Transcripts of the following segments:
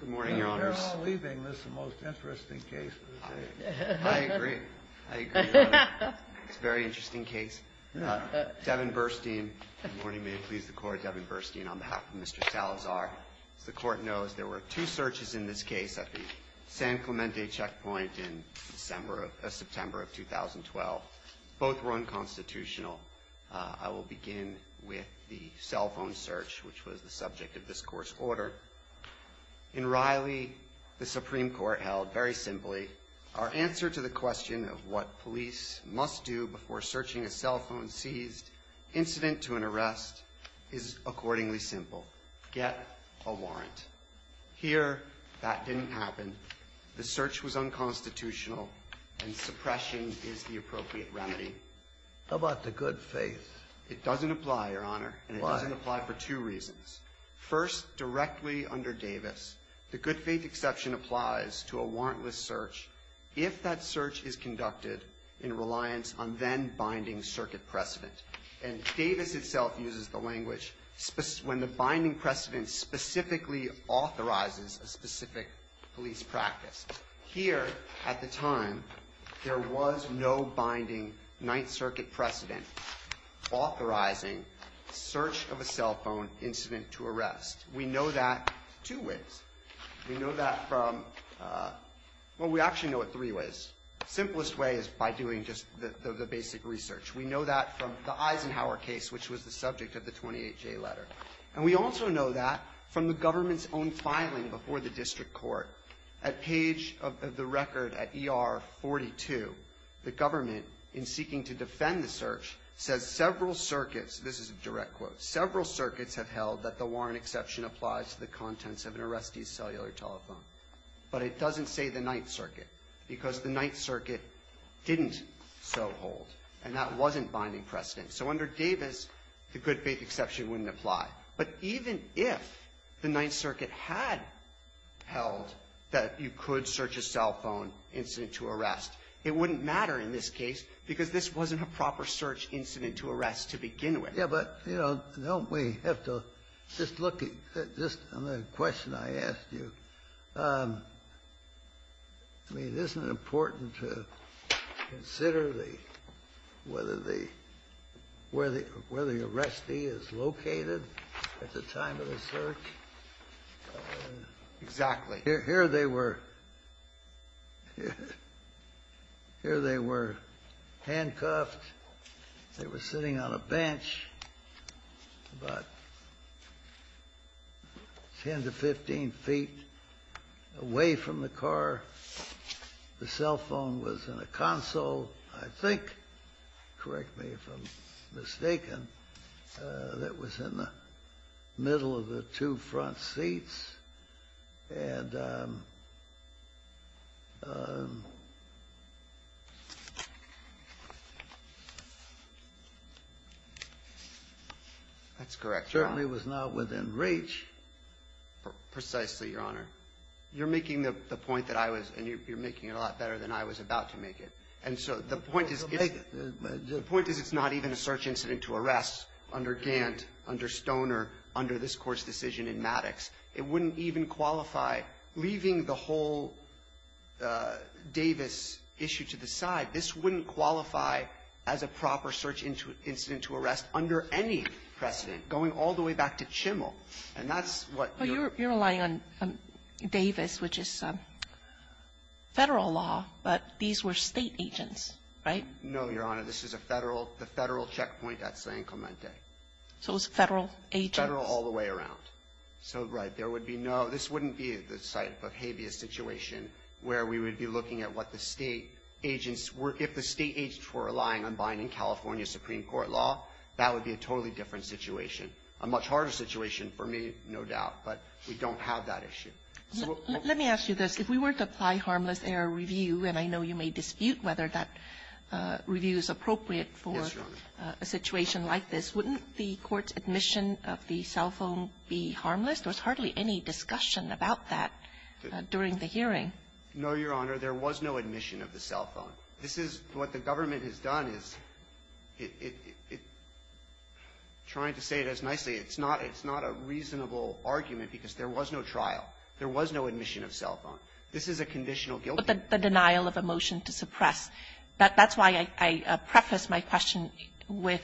Good morning, Your Honors. They're all leaving. This is the most interesting case. I agree. I agree, Your Honor. It's a very interesting case. Devin Burstein. Good morning. May it please the Court. Devin Burstein on behalf of Mr. Salazar. As the Court knows, there were two searches in this case at the San Clemente checkpoint in September of 2012. Both were unconstitutional. I will begin with the cell phone search, which was the subject of this Court's order. In Riley, the Supreme Court held very simply, our answer to the question of what police must do before searching a cell phone seized incident to an arrest is accordingly simple. Get a warrant. Here, that didn't happen. The search was unconstitutional, and suppression is the appropriate remedy. How about the good faith? It doesn't apply, Your Honor. Why? And it doesn't apply for two reasons. First, directly under Davis, the good faith exception applies to a warrantless search if that search is conducted in reliance on then-binding circuit precedent. And Davis itself uses the language when the binding precedent specifically authorizes a specific police practice. Here, at the time, there was no binding Ninth Circuit precedent authorizing search of a cell phone incident to arrest. We know that two ways. We know that from, well, we actually know it three ways. The simplest way is by doing just the basic research. We know that from the Eisenhower case, which was the subject of the 28-J letter. And we also know that from the government's own filing before the district court. At page of the record at ER 42, the government, in seeking to defend the search, says several circuits, this is a direct quote, several circuits have held that the warrant exception applies to the contents of an arrestee's cellular telephone. But it doesn't say the Ninth Circuit, because the Ninth Circuit didn't so hold, and that wasn't binding precedent. So under Davis, the good-faith exception wouldn't apply. But even if the Ninth Circuit had held that you could search a cell phone incident to arrest, it wouldn't matter in this case because this wasn't a proper search incident to arrest to begin with. Yeah, but, you know, don't we have to just look at just on the question I asked you. I mean, isn't it important to consider the — whether the — where the arrestee is located at the time of the search? Exactly. Here they were — here they were handcuffed. They were sitting on a bench about 10 to 15 feet away from the car. The cell phone was in a console, I think, correct me if I'm mistaken, that was in the middle of the two front seats, and — That's correct, Your Honor. Certainly was not within reach. Precisely, Your Honor. You're making the point that I was — and you're making it a lot better than I was about to make it. And so the point is — Well, make it. The point is it's not even a search incident to arrest under Gant, under Stoner, under this Court's decision in Maddox. It wouldn't even qualify, leaving the whole Davis issue to the side. This wouldn't qualify as a proper search incident to arrest under any precedent, going all the way back to Chimmel. And that's what — You're relying on Davis, which is Federal law, but these were State agents, right? No, Your Honor. This is a Federal — the Federal checkpoint at San Clemente. So it was Federal agents. Federal all the way around. So, right, there would be no — this wouldn't be the type of habeas situation where we would be looking at what the State agents were — if the State agents were relying on binding California Supreme Court law, that would be a totally different situation. A much harder situation for me, no doubt, but we don't have that issue. Let me ask you this. If we were to apply harmless error review, and I know you may dispute whether that review is appropriate for a situation like this, wouldn't the Court's admission of the cell phone be harmless? There was hardly any discussion about that during the hearing. No, Your Honor. There was no admission of the cell phone. This is — what the government has done is it — trying to say it as nicely, it's not — it's not a reasonable argument because there was no trial. There was no admission of cell phone. This is a conditional guilty plea. But the denial of a motion to suppress, that's why I preface my question with,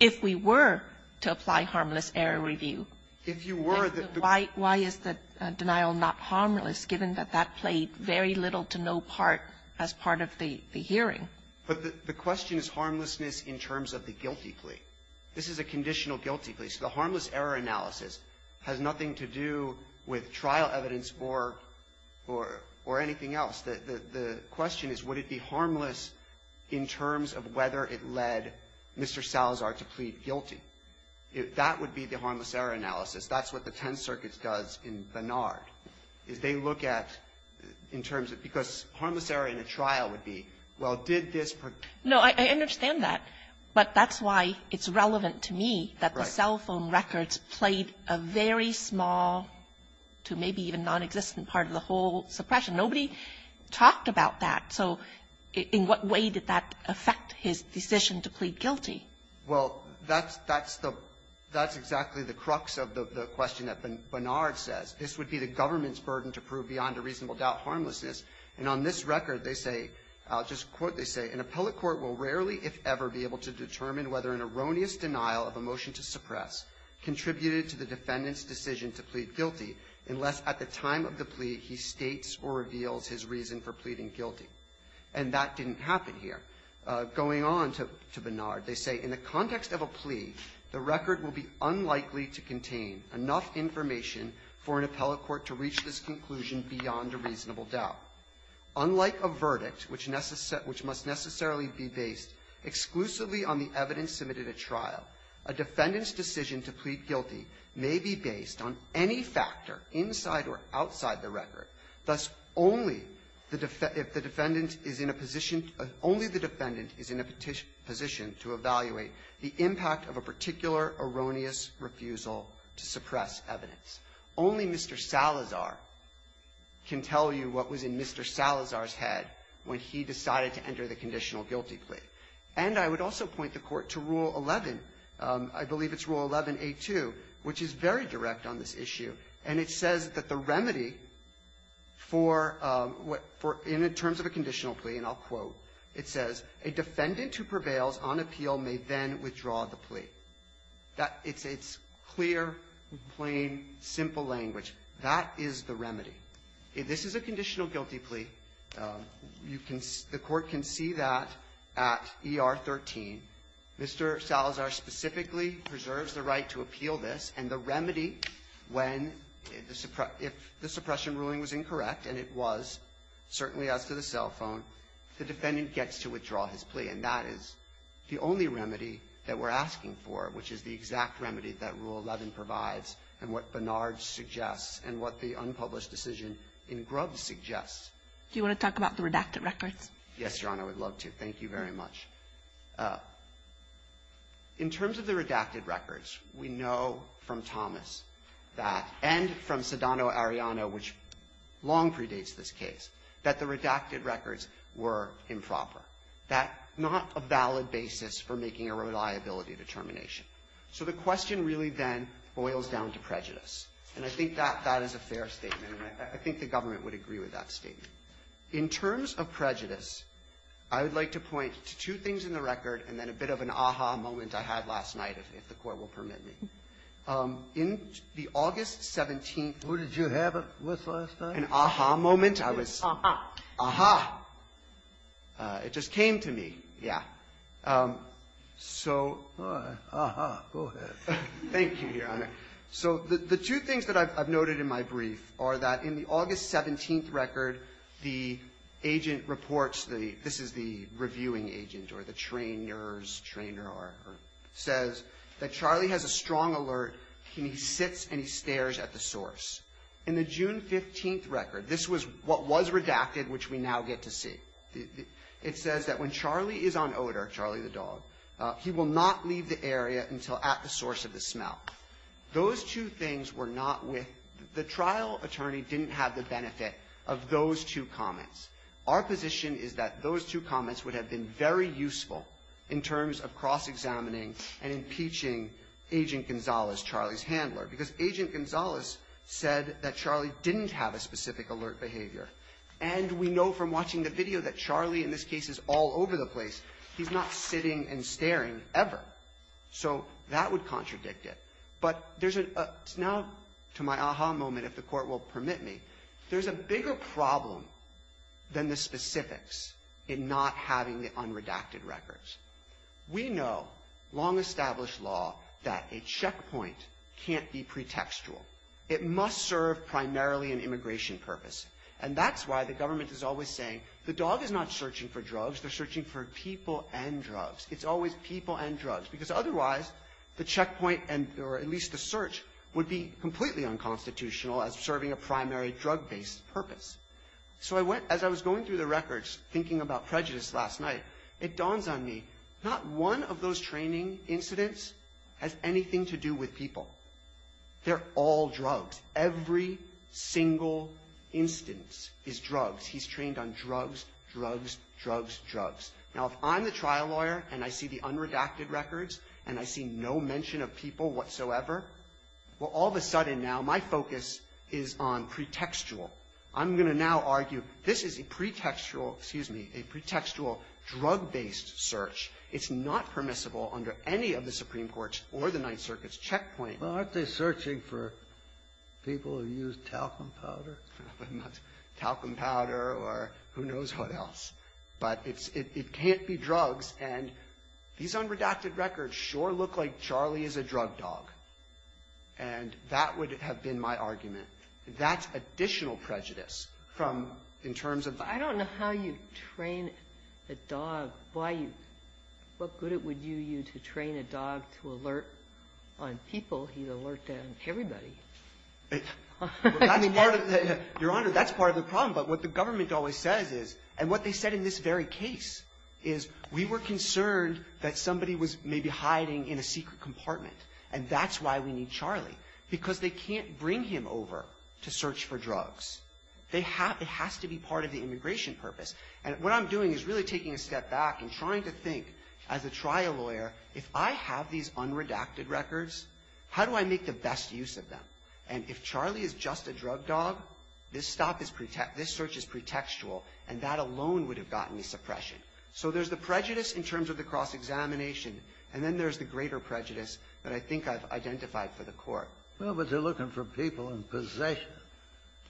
if we were to apply harmless error review, why is the denial not harmless given that that played very little to no part as part of the hearing? But the question is harmlessness in terms of the guilty plea. This is a conditional guilty plea. So the harmless error analysis has nothing to do with trial evidence or — or — or anything else. The — the question is would it be harmless in terms of whether it led Mr. Salazar to plead guilty? That would be the harmless error analysis. That's what the Tenth Circuit does in Barnard, is they look at, in terms of — because harmless error in a trial would be, well, did this — No, I understand that. But that's why it's relevant to me that the cell phone records played a very small to maybe even nonexistent part of the whole suppression. Nobody talked about that. So in what way did that affect his decision to plead guilty? Well, that's — that's the — that's exactly the crux of the question that Barnard says. This would be the government's burden to prove beyond a reasonable doubt harmlessness. And on this record, they say — I'll just quote, they say, An appellate court will rarely, if ever, be able to determine whether an erroneous denial of a motion to suppress contributed to the defendant's decision to plead guilty unless at the time of the plea he states or reveals his reason for pleading guilty. And that didn't happen here. Going on to — to Barnard, they say, In the context of a plea, the record will be unlikely to contain enough information for an appellate court to reach this conclusion beyond a reasonable doubt. Unlike a verdict, which must necessarily be based exclusively on the evidence submitted at trial, a defendant's decision to plead guilty may be based on any factor inside or outside the record. Thus, only the defendant is in a position — only the defendant is in a position to evaluate the impact of a particular erroneous refusal to suppress evidence. Only Mr. Salazar can tell you what was in Mr. Salazar's head when he decided to enter the conditional guilty plea. And I would also point the Court to Rule 11. I believe it's Rule 11a2, which is very direct on this issue. And it says that the remedy for what — for — in terms of a conditional plea, and I'll quote, it says, A defendant who prevails on appeal may then withdraw the plea. That — it's clear, plain, simple language. That is the remedy. If this is a conditional guilty plea, you can — the Court can see that at ER 13. Mr. Salazar specifically preserves the right to appeal this, and the remedy when the — if the suppression ruling was incorrect, and it was, certainly as to the cell phone, the defendant gets to withdraw his plea. And that is the only remedy that we're asking for, which is the exact remedy that Rule 11 provides and what Barnard suggests and what the unpublished decision in Grubbs suggests. Do you want to talk about the redacted records? Yes, Your Honor. I would love to. Thank you very much. In terms of the redacted records, we know from Thomas that — and from Sedano Arellano, which long predates this case — that the redacted records were improper. That's not a valid basis for making a reliability determination. So the question really then boils down to prejudice. And I think that that is a fair statement, and I think the government would agree with that statement. In terms of prejudice, I would like to point to two things in the record and then a bit of an aha moment I had last night, if the Court will permit me. In the August 17th — Who did you have it with last night? An aha moment. Aha. Aha. It just came to me. Yeah. So — Aha. Go ahead. Thank you, Your Honor. So the two things that I've noted in my brief are that in the August 17th record, the agent reports — this is the reviewing agent or the trainer's — says that Charlie has a strong alert and he sits and he stares at the It says that when Charlie is on odor, Charlie the dog, he will not leave the area until at the source of the smell. Those two things were not with — the trial attorney didn't have the benefit of those two comments. Our position is that those two comments would have been very useful in terms of cross-examining and impeaching Agent Gonzalez, Charlie's handler, because Agent Gonzalez said that Charlie didn't have a specific alert behavior. And we know from watching the video that Charlie, in this case, is all over the place. He's not sitting and staring ever. So that would contradict it. But there's a — now, to my aha moment, if the Court will permit me, there's a bigger problem than the specifics in not having the unredacted records. We know, long-established law, that a checkpoint can't be pretextual. It must serve primarily an immigration purpose. And that's why the government is always saying the dog is not searching for drugs. They're searching for people and drugs. It's always people and drugs. Because otherwise, the checkpoint and — or at least the search would be completely unconstitutional as serving a primary drug-based purpose. So I went — as I was going through the records, thinking about prejudice last night, it dawns on me, not one of those training incidents has anything to do with people. They're all drugs. Every single instance is drugs. He's trained on drugs, drugs, drugs, drugs. Now, if I'm the trial lawyer and I see the unredacted records and I see no mention of people whatsoever, well, all of a sudden now my focus is on pretextual. I'm going to now argue, this is a pretextual — excuse me — a pretextual drug-based search. It's not permissible under any of the Supreme Court's or the Ninth Circuit's checkpoint. Well, aren't they searching for people who use talcum powder? Talcum powder or who knows what else. But it's — it can't be drugs. And these unredacted records sure look like Charlie is a drug dog. And that would have been my argument. That's additional prejudice from — in terms of — I don't know how you train a dog, why you — what good it would do you to train a dog to alert on people. He's alerted on everybody. Your Honor, that's part of the problem. But what the government always says is — and what they said in this very case is we were concerned that somebody was maybe hiding in a secret compartment, and that's why we need Charlie, because they can't bring him over to search for drugs. They have — it has to be part of the immigration purpose. And what I'm doing is really taking a step back and trying to think, as a trial lawyer, if I have these unredacted records, how do I make the best use of them? And if Charlie is just a drug dog, this stop is — this search is pretextual, and that alone would have gotten me suppression. So there's the prejudice in terms of the cross-examination, and then there's the greater prejudice that I think I've identified for the Court. Well, but they're looking for people in possession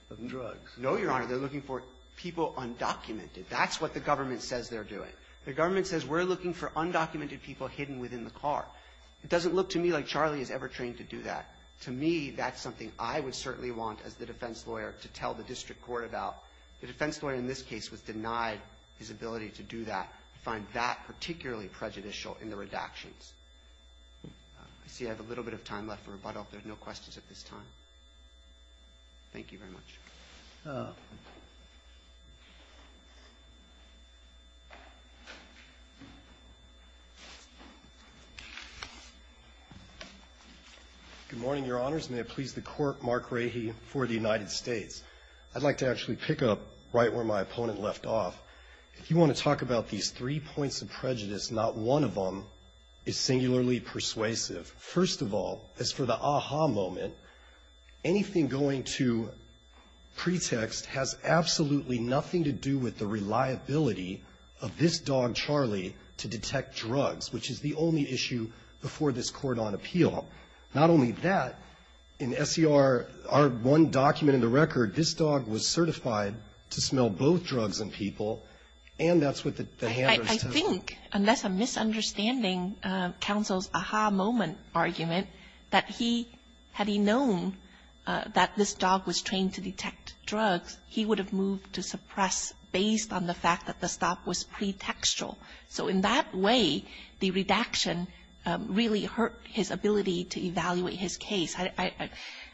of drugs. No, Your Honor. They're looking for people undocumented. That's what the government says they're doing. The government says we're looking for undocumented people hidden within the car. It doesn't look to me like Charlie is ever trained to do that. To me, that's something I would certainly want, as the defense lawyer, to tell the district court about. The defense lawyer in this case was denied his ability to do that. I find that particularly prejudicial in the redactions. I see I have a little bit of time left for rebuttal, if there are no questions at this time. Thank you very much. Good morning, Your Honors. May it please the Court, Mark Rahe for the United States. I'd like to actually pick up right where my opponent left off. If you want to talk about these three points of prejudice, not one of them is singularly persuasive. First of all, as for the aha moment, anything going to pretext has absolutely nothing to do with the reliability of this dog, Charlie, to detect drugs, which is the only issue before this court on appeal. Not only that, in S.E.R., our one document in the record, this dog was certified to smell both drugs and people, and that's what the hand was to him. I think, unless I'm misunderstanding counsel's aha moment argument, that he, had he known that this dog was trained to detect drugs, he would have moved to suppress based on the fact that the stop was pretextual. So in that way, the redaction really hurt his ability to evaluate his case. I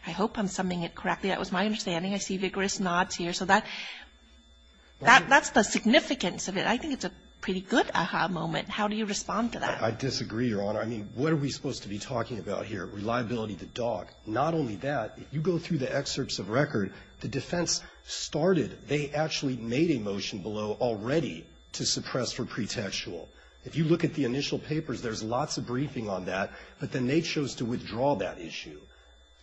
hope I'm summing it correctly. That was my understanding. I see vigorous nods here. So that's the significance of it. I think it's a pretty good aha moment. How do you respond to that? I disagree, Your Honor. I mean, what are we supposed to be talking about here, reliability of the dog? Not only that, if you go through the excerpts of record, the defense started, they actually made a motion below already to suppress for pretextual. If you look at the initial papers, there's lots of briefing on that, but then they chose to withdraw that issue.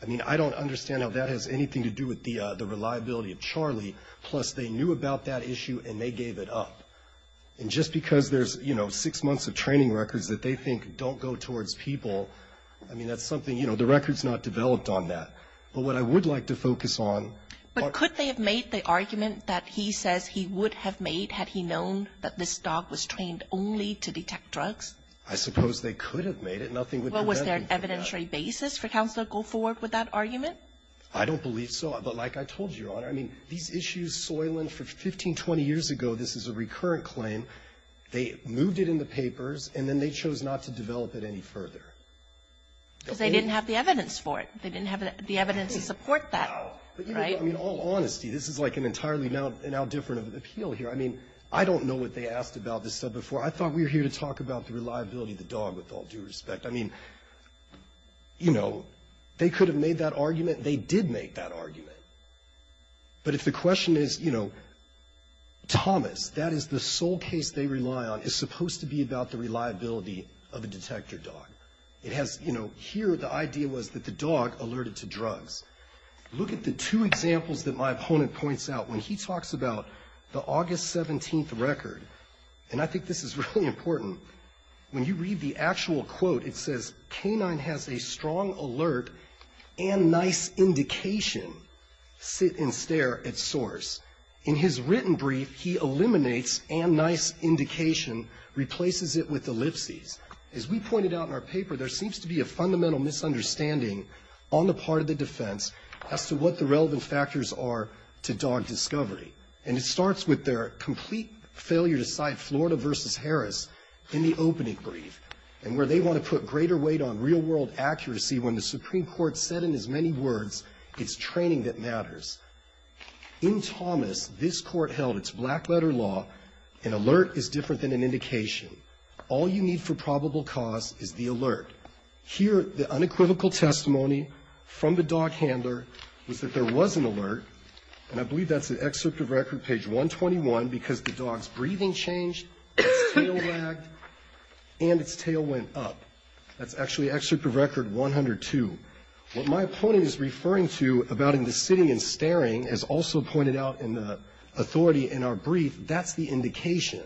I mean, I don't understand how that has anything to do with the reliability of Charlie. Plus, they knew about that issue, and they gave it up. And just because there's, you know, six months of training records that they think don't go towards people, I mean, that's something, you know, the record's not developed on that. But what I would like to focus on are the facts. But could they have made the argument that he says he would have made had he known that this dog was trained only to detect drugs? I suppose they could have made it. Nothing would have happened from that. Well, was there an evidentiary basis for Counselor Goldford with that argument? I don't believe so. But like I told you, Your Honor, I mean, these issues soiling for 15, 20 years ago, this is a recurrent claim. They moved it in the papers, and then they chose not to develop it any further. Because they didn't have the evidence for it. They didn't have the evidence to support that. Right? I mean, all honesty, this is like an entirely now different appeal here. I mean, I don't know what they asked about this stuff before. I thought we were here to talk about the reliability of the dog, with all due respect. I mean, you know, they could have made that argument. They did make that argument. But if the question is, you know, Thomas, that is the sole case they rely on, is supposed to be about the reliability of a detector dog. It has, you know, here the idea was that the dog alerted to drugs. Look at the two examples that my opponent points out. When he talks about the August 17th record, and I think this is really important, when you read the actual quote, it says, Canine has a strong alert and nice indication. Sit and stare at source. In his written brief, he eliminates and nice indication, replaces it with ellipses. As we pointed out in our paper, there seems to be a fundamental misunderstanding on the part of the defense as to what the relevant factors are to dog discovery. And it starts with their complete failure to cite Florida v. Harris in the opening brief, and where they want to put greater weight on real-world accuracy when the Supreme Court said in as many words, it's training that matters. In Thomas, this Court held it's black-letter law, an alert is different than an indication. All you need for probable cause is the alert. Here, the unequivocal testimony from the dog handler was that there was an alert, and I believe that's an excerpt of record page 121, because the dog's breathing changed, its tail wagged, and its tail went up. That's actually excerpt of record 102. What my opponent is referring to about him sitting and staring, as also pointed out in the authority in our brief, that's the indication.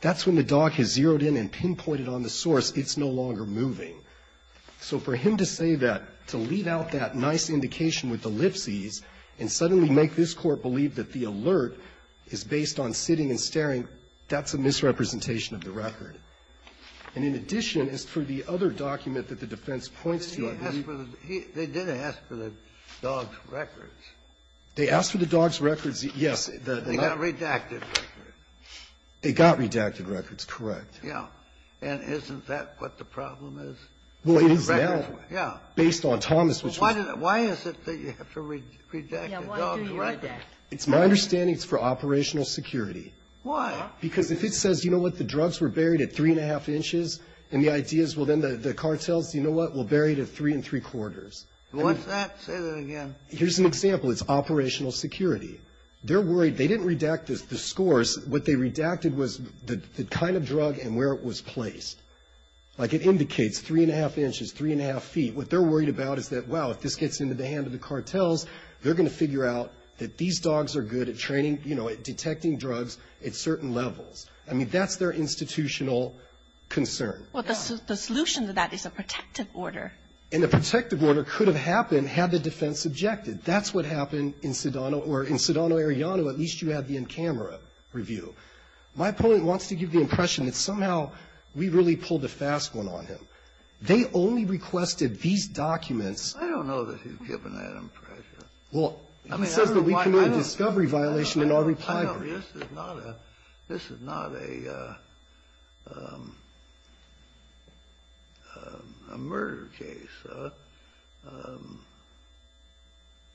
That's when the dog has zeroed in and pinpointed on the source it's no longer moving. So for him to say that, to leave out that nice indication with ellipses, and suddenly make this Court believe that the alert is based on sitting and staring, that's a misrepresentation of the record. And in addition, as for the other document that the defense points to, I believe he was the one who asked for the dog's records. They asked for the dog's records, yes. They got redacted records. They got redacted records, correct. Yeah. And isn't that what the problem is? Well, it is now. Well, why is it that you have to redact the dog's records? It's my understanding it's for operational security. Why? Because if it says, you know what, the drugs were buried at 3-1⁄2 inches, and the idea is, well, then the cartels, you know what, will bury it at 3-3⁄4. What's that? Say that again. Here's an example. It's operational security. They're worried. They didn't redact the scores. What they redacted was the kind of drug and where it was placed. Like it indicates 3-1⁄2 inches, 3-1⁄2 feet. What they're worried about is that, wow, if this gets into the hands of the cartels, they're going to figure out that these dogs are good at training, you know, at detecting drugs at certain levels. I mean, that's their institutional concern. Well, the solution to that is a protective order. And the protective order could have happened had the defense objected. That's what happened in Sedano or in Sedano-Ariano. At least you had the in-camera review. My point wants to give the impression that somehow we really pulled a fast one on him. They only requested these documents. I don't know that you've given that impression. Well, he says that we committed a discovery violation in our report. This is not a murder case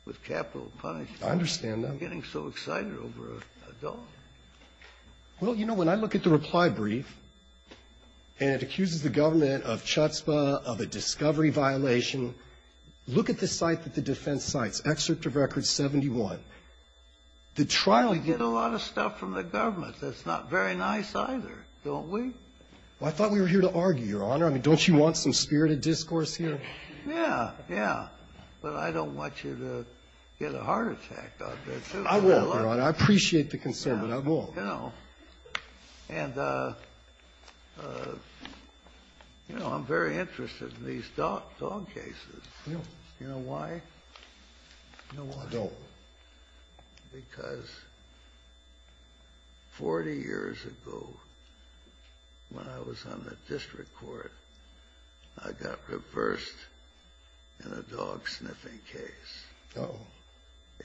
with capital punishment. I understand that. I'm getting so excited over a dog. Well, you know, when I look at the reply brief, and it accuses the government of chutzpah, of a discovery violation, look at the site that the defense cites, Excerpt of Record 71. We get a lot of stuff from the government that's not very nice either, don't we? Well, I thought we were here to argue, Your Honor. I mean, don't you want some spirited discourse here? Yeah, yeah. But I don't want you to get a heart attack. I won't, Your Honor. I appreciate the concern, but I won't. And, you know, I'm very interested in these dog cases. You know why? I don't. Because 40 years ago, when I was on the district court, I got reversed in a dog sniffing case. Oh.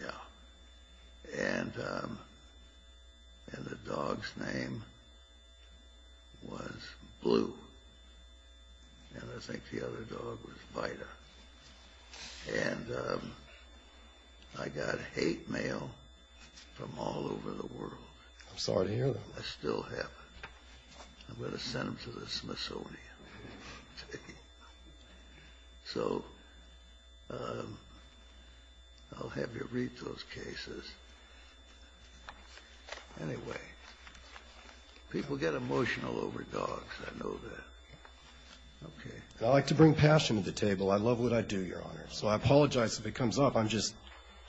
Yeah. And the dog's name was Blue. And I think the other dog was Vita. And I got hate mail from all over the world. I'm sorry to hear that. I still have it. I'm going to send them to the Smithsonian. So I'll have you read those cases. Anyway, people get emotional over dogs. I know that. Okay. I like to bring passion to the table. I love what I do, Your Honor. So I apologize if it comes up. I'm just,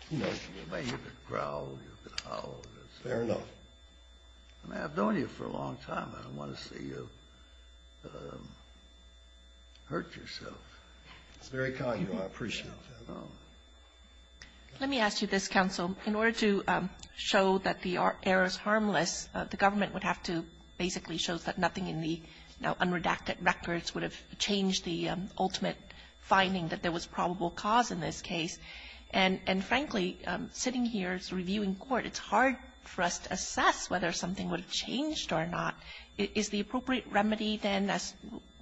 you know, you've been growling, you've been howling. Fair enough. I mean, I've known you for a long time. I don't want to see you hurt yourself. It's very kind of you. I appreciate that. Let me ask you this, counsel. In order to show that the error is harmless, the government would have to basically show that nothing in the unredacted records would have changed the ultimate finding that there was probable cause in this case. And, frankly, sitting here as a reviewing court, it's hard for us to assess whether something would have changed or not. Is the appropriate remedy then, as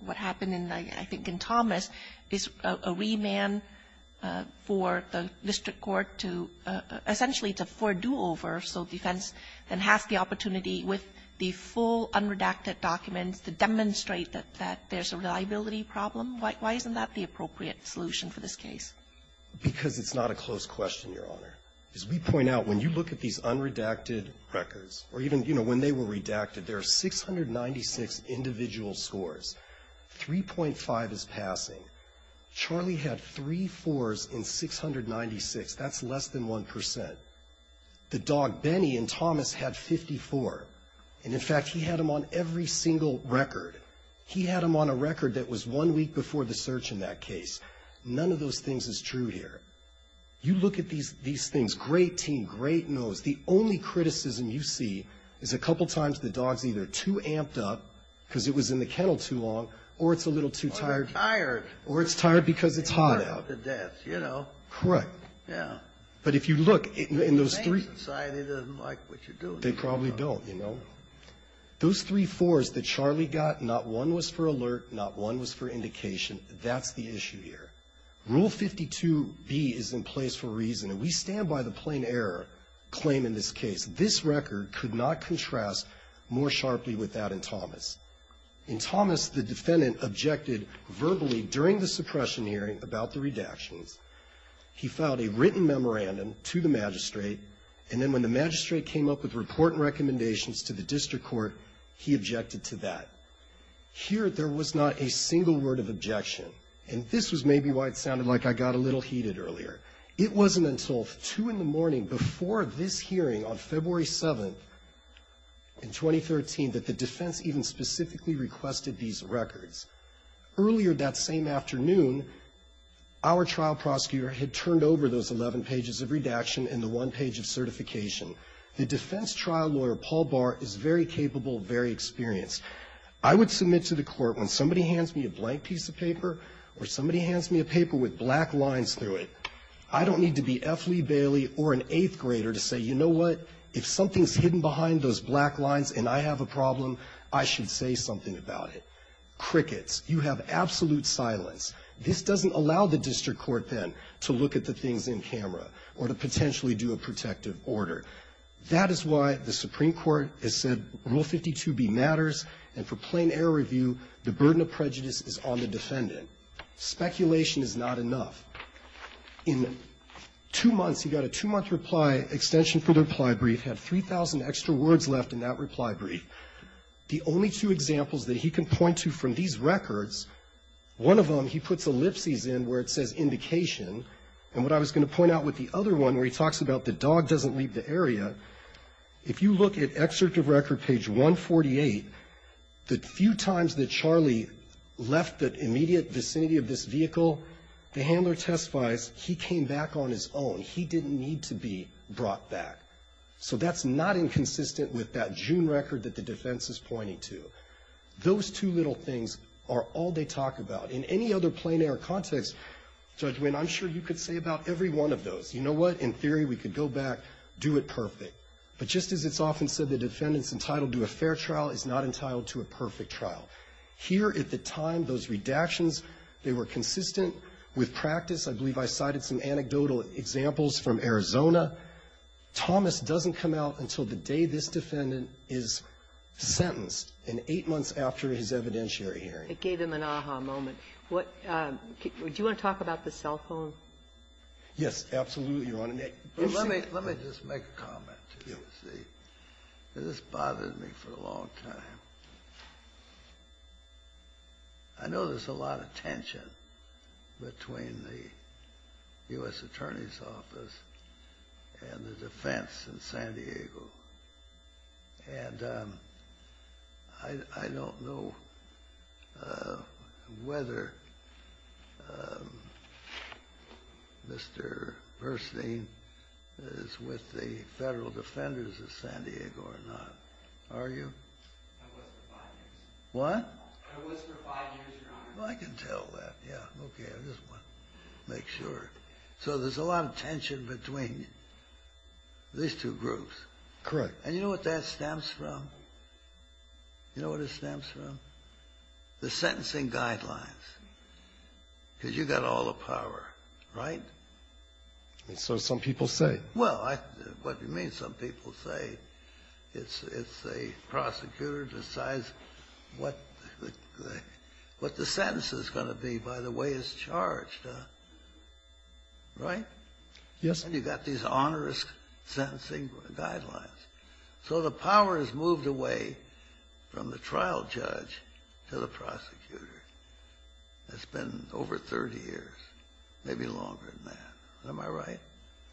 what happened, I think, in Thomas, is a remand for the district court to essentially to foredo over, so defense then has the opportunity with the full unredacted documents to demonstrate that there's a reliability problem? Why isn't that the appropriate solution for this case? Because it's not a close question, Your Honor. As we point out, when you look at these unredacted records, or even, you know, when they were redacted, there are 696 individual scores. 3.5 is passing. Charlie had three 4s in 696. That's less than 1 percent. The dog, Benny, in Thomas had 54. And, in fact, he had them on every single record. He had them on a record that was one week before the search in that case. None of those things is true here. You look at these things, great team, great nose, the only criticism you see is a couple times the dog's either too amped up because it was in the kennel too long, or it's a little too tired. Or they're tired. Or it's tired because it's hot out. You know. Correct. Yeah. But if you look in those three. The main society doesn't like what you're doing. They probably don't, you know. Those three 4s that Charlie got, not one was for alert, not one was for indication. That's the issue here. Rule 52B is in place for reason. And we stand by the plain error claim in this case. This record could not contrast more sharply with that in Thomas. In Thomas, the defendant objected verbally during the suppression hearing about the redactions. He filed a written memorandum to the magistrate. And then when the magistrate came up with report and recommendations to the district court, he objected to that. Here, there was not a single word of objection. And this was maybe why it sounded like I got a little heated earlier. It wasn't until 2 in the morning before this hearing on February 7th in 2013 that the defense even specifically requested these records. Earlier that same afternoon, our trial prosecutor had turned over those 11 pages of redaction and the one page of certification. The defense trial lawyer, Paul Barr, is very capable, very experienced. I would submit to the court when somebody hands me a blank piece of paper or somebody hands me a paper with black lines through it, I don't need to be F. Lee Bailey or an eighth grader to say, you know what, if something's hidden behind those black lines and I have a problem, I should say something about it. Crickets. You have absolute silence. This doesn't allow the district court then to look at the things in camera or to potentially do a protective order. That is why the Supreme Court has said Rule 52B matters, and for plain error review, the burden of prejudice is on the defendant. Speculation is not enough. In two months, he got a two-month reply extension for the reply brief, had 3,000 extra words left in that reply brief. The only two examples that he can point to from these records, one of them he puts ellipses in where it says indication, and what I was going to point out with the other one where he talks about the dog doesn't leave the area, if you look at excerpt of record page 148, the few times that Charlie left the immediate vicinity of this vehicle, the handler testifies he came back on his own. He didn't need to be brought back. So that's not inconsistent with that June record that the defense is pointing to. Those two little things are all they talk about. In any other plain error context, Judge Winn, I'm sure you could say about every one of those. You know what? In theory, we could go back, do it perfect. But just as it's often said, the defendant's entitled to a fair trial is not entitled to a perfect trial. Here at the time, those redactions, they were consistent with practice. I believe I cited some anecdotal examples from Arizona. Thomas doesn't come out until the day this defendant is sentenced, and eight months after his evidentiary hearing. It gave him an aha moment. What do you want to talk about the cell phone? Yes, absolutely, Your Honor. Let me just make a comment. Yes. This bothered me for a long time. I know there's a lot of tension between the U.S. Attorney's Office and the defense in San Diego. And I don't know whether Mr. Burstein is with the federal defenders of San Diego or not. Are you? I was for five years. What? I was for five years, Your Honor. Well, I can tell that. Yes. Okay. I just want to make sure. So there's a lot of tension between these two groups. Correct. And you know what that stems from? You know what it stems from? The sentencing guidelines, because you've got all the power, right? So some people say. Well, what do you mean some people say? It's a prosecutor decides what the sentence is going to be by the way it's charged, right? Yes. And you've got these onerous sentencing guidelines. So the power is moved away from the trial judge to the prosecutor. It's been over 30 years, maybe longer than that. Am I right?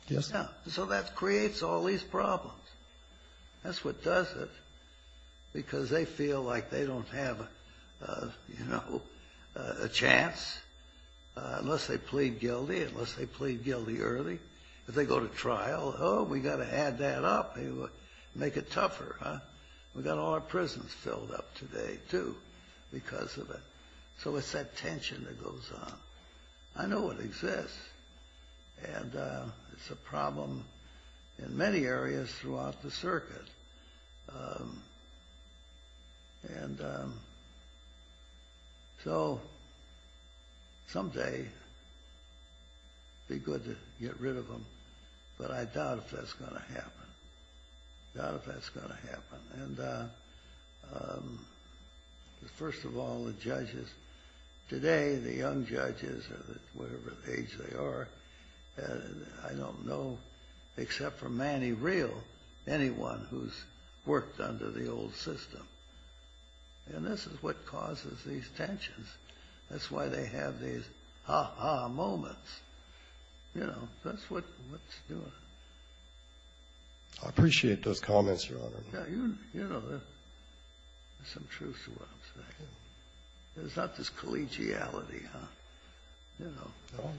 Yes. So that creates all these problems. That's what does it, because they feel like they don't have, you know, a chance, unless they plead guilty, unless they plead guilty early. If they go to trial, oh, we've got to add that up, make it tougher, huh? We've got all our prisons filled up today, too, because of it. So it's that tension that goes on. I know it exists. And it's a problem in many areas throughout the circuit. And so someday it would be good to get rid of them, but I doubt if that's going to happen. I doubt if that's going to happen. First of all, the judges today, the young judges, whatever age they are, I don't know, except for Manny Real, anyone who's worked under the old system. And this is what causes these tensions. That's why they have these ha-ha moments. You know, that's what's doing it. I appreciate those comments, Your Honor. Yeah. You know, there's some truth to what I'm saying. There's not this collegiality, huh? You know. No.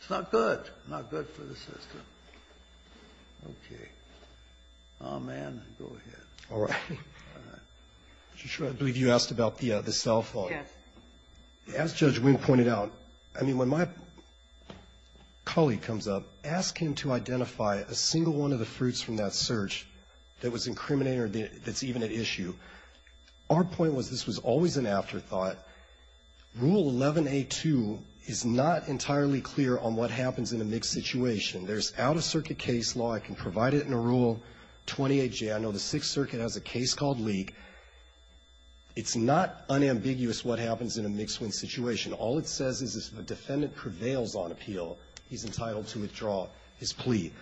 It's not good. Not good for the system. Okay. Oh, man. Go ahead. All right. All right. I believe you asked about the cell phone. Yes. As Judge Wing pointed out, I mean, when my colleague comes up, ask him to identify a single one of the fruits from that search that was incriminating or that's even at issue. Our point was this was always an afterthought. Rule 11a2 is not entirely clear on what happens in a mixed situation. There's out-of-circuit case law. I can provide it in a Rule 28J. I know the Sixth Circuit has a case called Leak. It's not unambiguous what happens in a mixed-win situation. All it says is if a defendant prevails on appeal, he's entitled to withdraw his plea.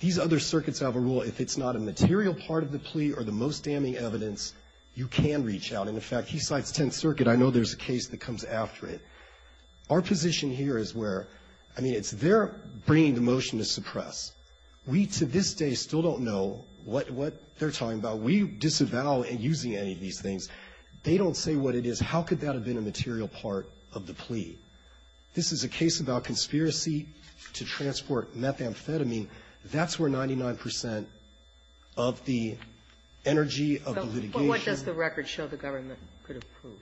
These other circuits have a rule if it's not a material part of the plea or the most damning evidence, you can reach out. And, in fact, he cites Tenth Circuit. I know there's a case that comes after it. Our position here is where, I mean, it's their bringing the motion to suppress. We, to this day, still don't know what they're talking about. We disavow using any of these things. They don't say what it is. How could that have been a material part of the plea? This is a case about conspiracy to transport methamphetamine. That's where 99 percent of the energy of the litigation. But what does the record show the government could have proved?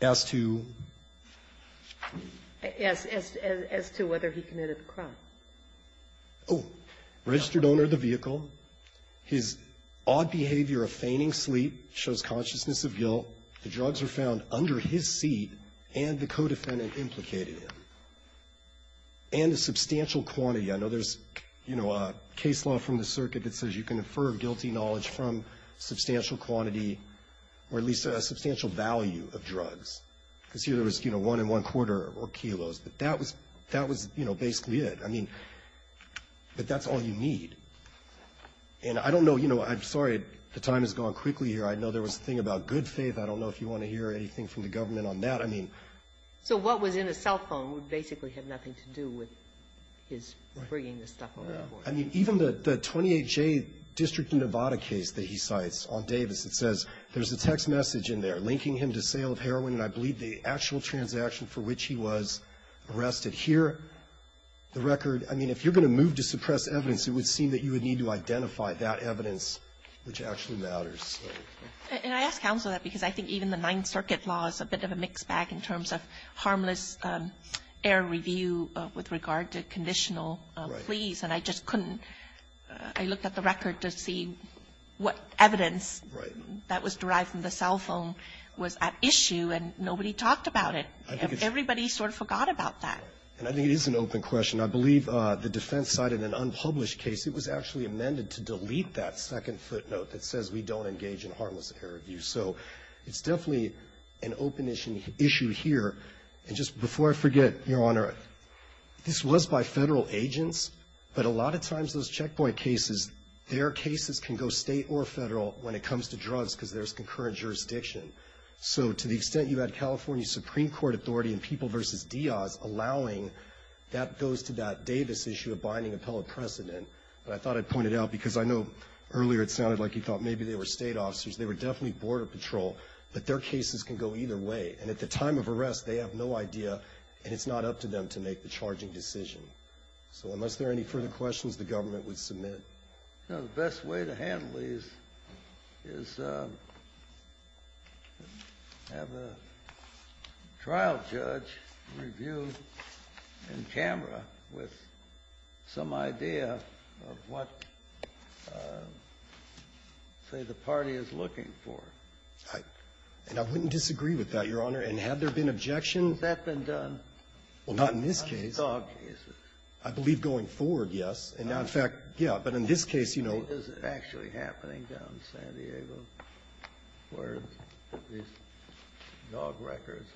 As to? As to whether he committed the crime. Oh. Registered owner of the vehicle. His odd behavior of feigning sleep shows consciousness of guilt. The drugs were found under his seat and the co-defendant implicated him. And a substantial quantity. I know there's, you know, a case law from the circuit that says you can infer guilty knowledge from substantial quantity or at least a substantial value of drugs. Because here there was, you know, one and one quarter or kilos. But that was, you know, basically it. I mean, but that's all you need. And I don't know, you know, I'm sorry the time has gone quickly here. I know there was a thing about good faith. I don't know if you want to hear anything from the government on that. I mean. So what was in his cell phone would basically have nothing to do with his bringing this stuff over the border. I mean, even the 28J District of Nevada case that he cites on Davis, it says there's a text message in there linking him to sale of heroin, and I believe the actual transaction for which he was arrested. Here, the record. I mean, if you're going to move to suppress evidence, it would seem that you would need to identify that evidence which actually matters. Kagan. And I ask counsel that because I think even the Ninth Circuit law is a bit of a mixed bag in terms of harmless air review with regard to conditional pleas. And I just couldn't. I looked at the record to see what evidence that was derived from the cell phone was at issue, and nobody talked about it. Everybody sort of forgot about that. And I think it is an open question. I believe the defense cited an unpublished case. It was actually amended to delete that second footnote that says we don't engage in harmless air review. So it's definitely an open issue here. And just before I forget, Your Honor, this was by Federal agents, but a lot of times those checkpoint cases, their cases can go State or Federal when it comes to drugs because there's concurrent jurisdiction. So to the extent you had California Supreme Court authority in People v. Diaz allowing that goes to that Davis issue of binding appellate precedent. And I thought I'd point it out because I know earlier it sounded like you thought maybe they were State officers. They were definitely Border Patrol. But their cases can go either way. And at the time of arrest, they have no idea, and it's not up to them to make the charging decision. So unless there are any further questions, the government would submit. The best way to handle these is have a trial judge review in Canberra with some idea of what, say, the party is looking for. And I wouldn't disagree with that, Your Honor. And had there been objection? Has that been done? Well, not in this case. I believe going forward, yes. And in fact, yeah. But in this case, you know. This is actually happening down in San Diego where these dog records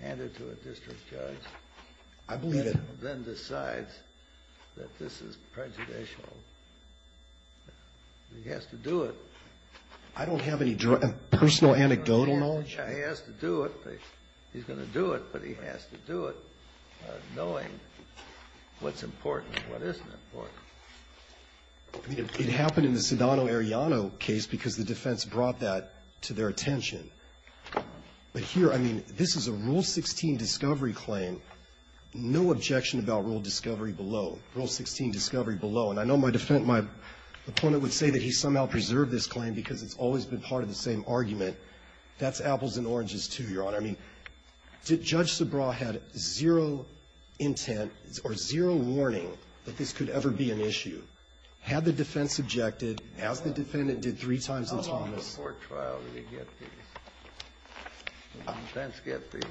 are handed to a district judge. I believe it. And then decides that this is prejudicial. He has to do it. I don't have any personal anecdotal knowledge. He has to do it. He's going to do it. But he has to do it knowing what's important and what isn't important. It happened in the Sedano-Arellano case because the defense brought that to their attention. But here, I mean, this is a Rule 16 discovery claim. No objection about Rule discovery below. Rule 16 discovery below. And I know my opponent would say that he somehow preserved this claim because it's always been part of the same argument. That's apples and oranges, too, Your Honor. I mean, Judge Subraw had zero intent or zero warning that this could ever be an issue. Had the defense objected, as the defendant did three times in Thomas. The defense get the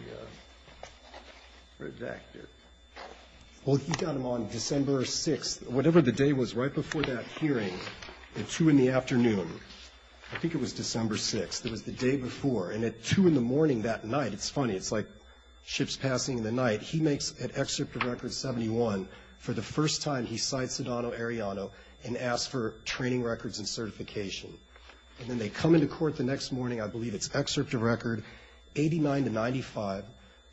redacted. Well, he got them on December 6th, whatever the day was right before that hearing, at 2 in the afternoon. I think it was December 6th. It was the day before. And at 2 in the morning that night, it's funny. It's like ships passing in the night. He makes an excerpt of Record 71 for the first time he cites Sedano-Arellano and asks for training records and certification. And then they come into court the next morning. I believe it's excerpt of Record 89 to 95.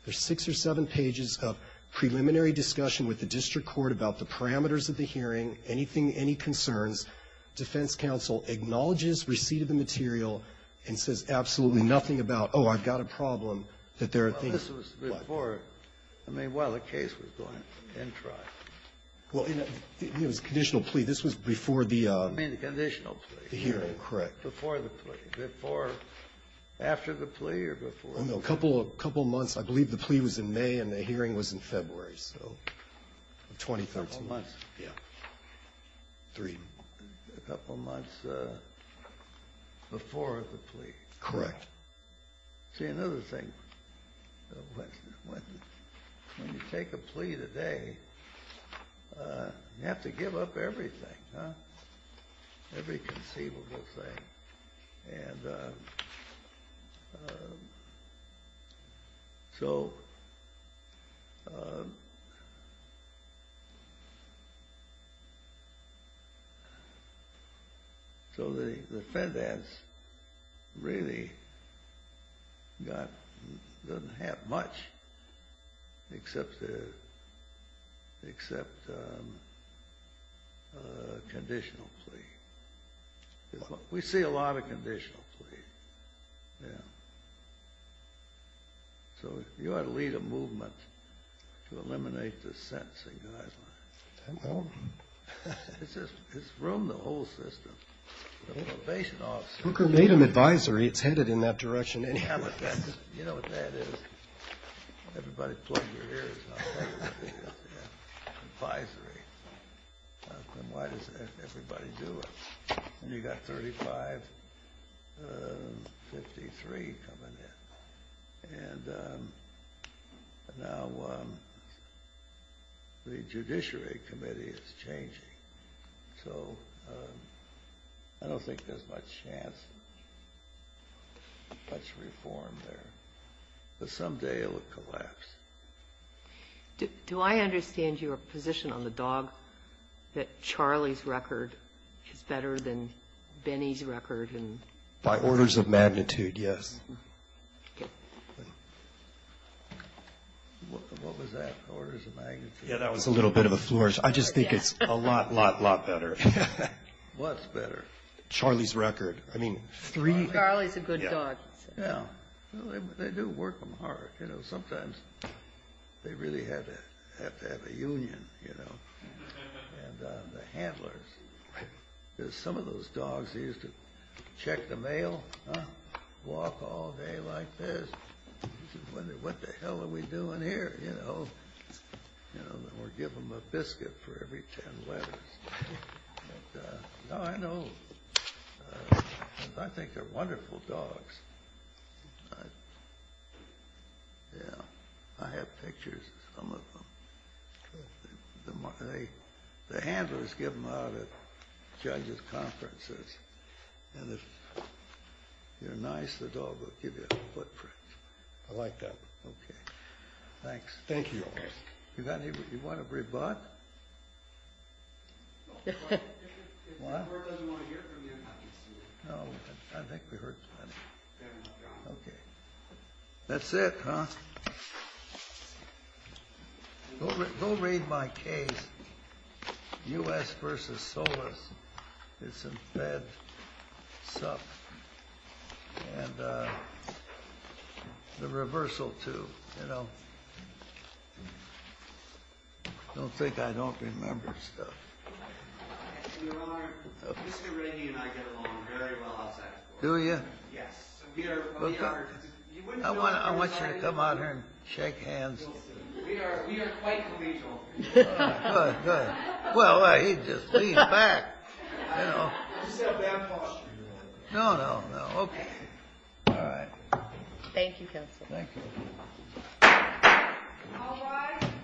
There's six or seven pages of preliminary discussion with the district court about the parameters of the hearing, anything, any concerns. Defense counsel acknowledges receipt of the material and says absolutely nothing about, oh, I've got a problem, that there are things. Well, this was before. I mean, while the case was going in trial. Well, it was a conditional plea. This was before the hearing. I mean, the conditional plea. Correct. Before the plea. Before, after the plea, or before? Oh, no. A couple of months. I believe the plea was in May and the hearing was in February, so 2013. A couple months. Yeah. Three. A couple months before the plea. Correct. See, another thing, when you take a plea today, you have to give up everything, every conceivable thing. And so the defendant really doesn't have much except a conditional plea. We see a lot of conditional pleas. Yeah. So you ought to lead a movement to eliminate the sentencing guidelines. Well. It's just, it's ruined the whole system. The probation officer. Booker made an advisory. It's headed in that direction anyway. You know what that is? Everybody plug your ears. Advisory. Then why does everybody do it? And you've got 35, 53 coming in. And now the Judiciary Committee is changing. So I don't think there's much chance, much reform there. But someday it will collapse. Do I understand your position on the dog, that Charlie's record is better than Benny's record? By orders of magnitude, yes. Okay. What was that, orders of magnitude? Yeah, that was a little bit of a flourish. I just think it's a lot, lot, lot better. What's better? Charlie's record. I mean, three. Charlie's a good dog. Yeah. They do work them hard. You know, sometimes they really have to have a union, you know. And the handlers. Because some of those dogs used to check the mail, walk all day like this. What the hell are we doing here, you know? Or give them a biscuit for every 10 letters. No, I know. I think they're wonderful dogs. Yeah. I have pictures of some of them. The handlers give them out at judges' conferences. And if you're nice, the dog will give you a footprint. I like that. Okay. Thanks. Thank you. You want to rebut? No. What? If the court doesn't want to hear it from you, I can see it. No, I think we heard plenty. Okay. That's it, huh? Go read my case, U.S. v. Solis. It's a bad stuff. And the reversal, too, you know. Don't think I don't remember stuff. Your Honor, Mr. Rainey and I get along very well outside the court. Do you? Yes. I want you to come out here and shake hands. We are quite collegial. Well, he just leaned back, you know. No, no, no. Okay. All right. Thank you, counsel. Thank you. All rise. The court for this session stands adjourned.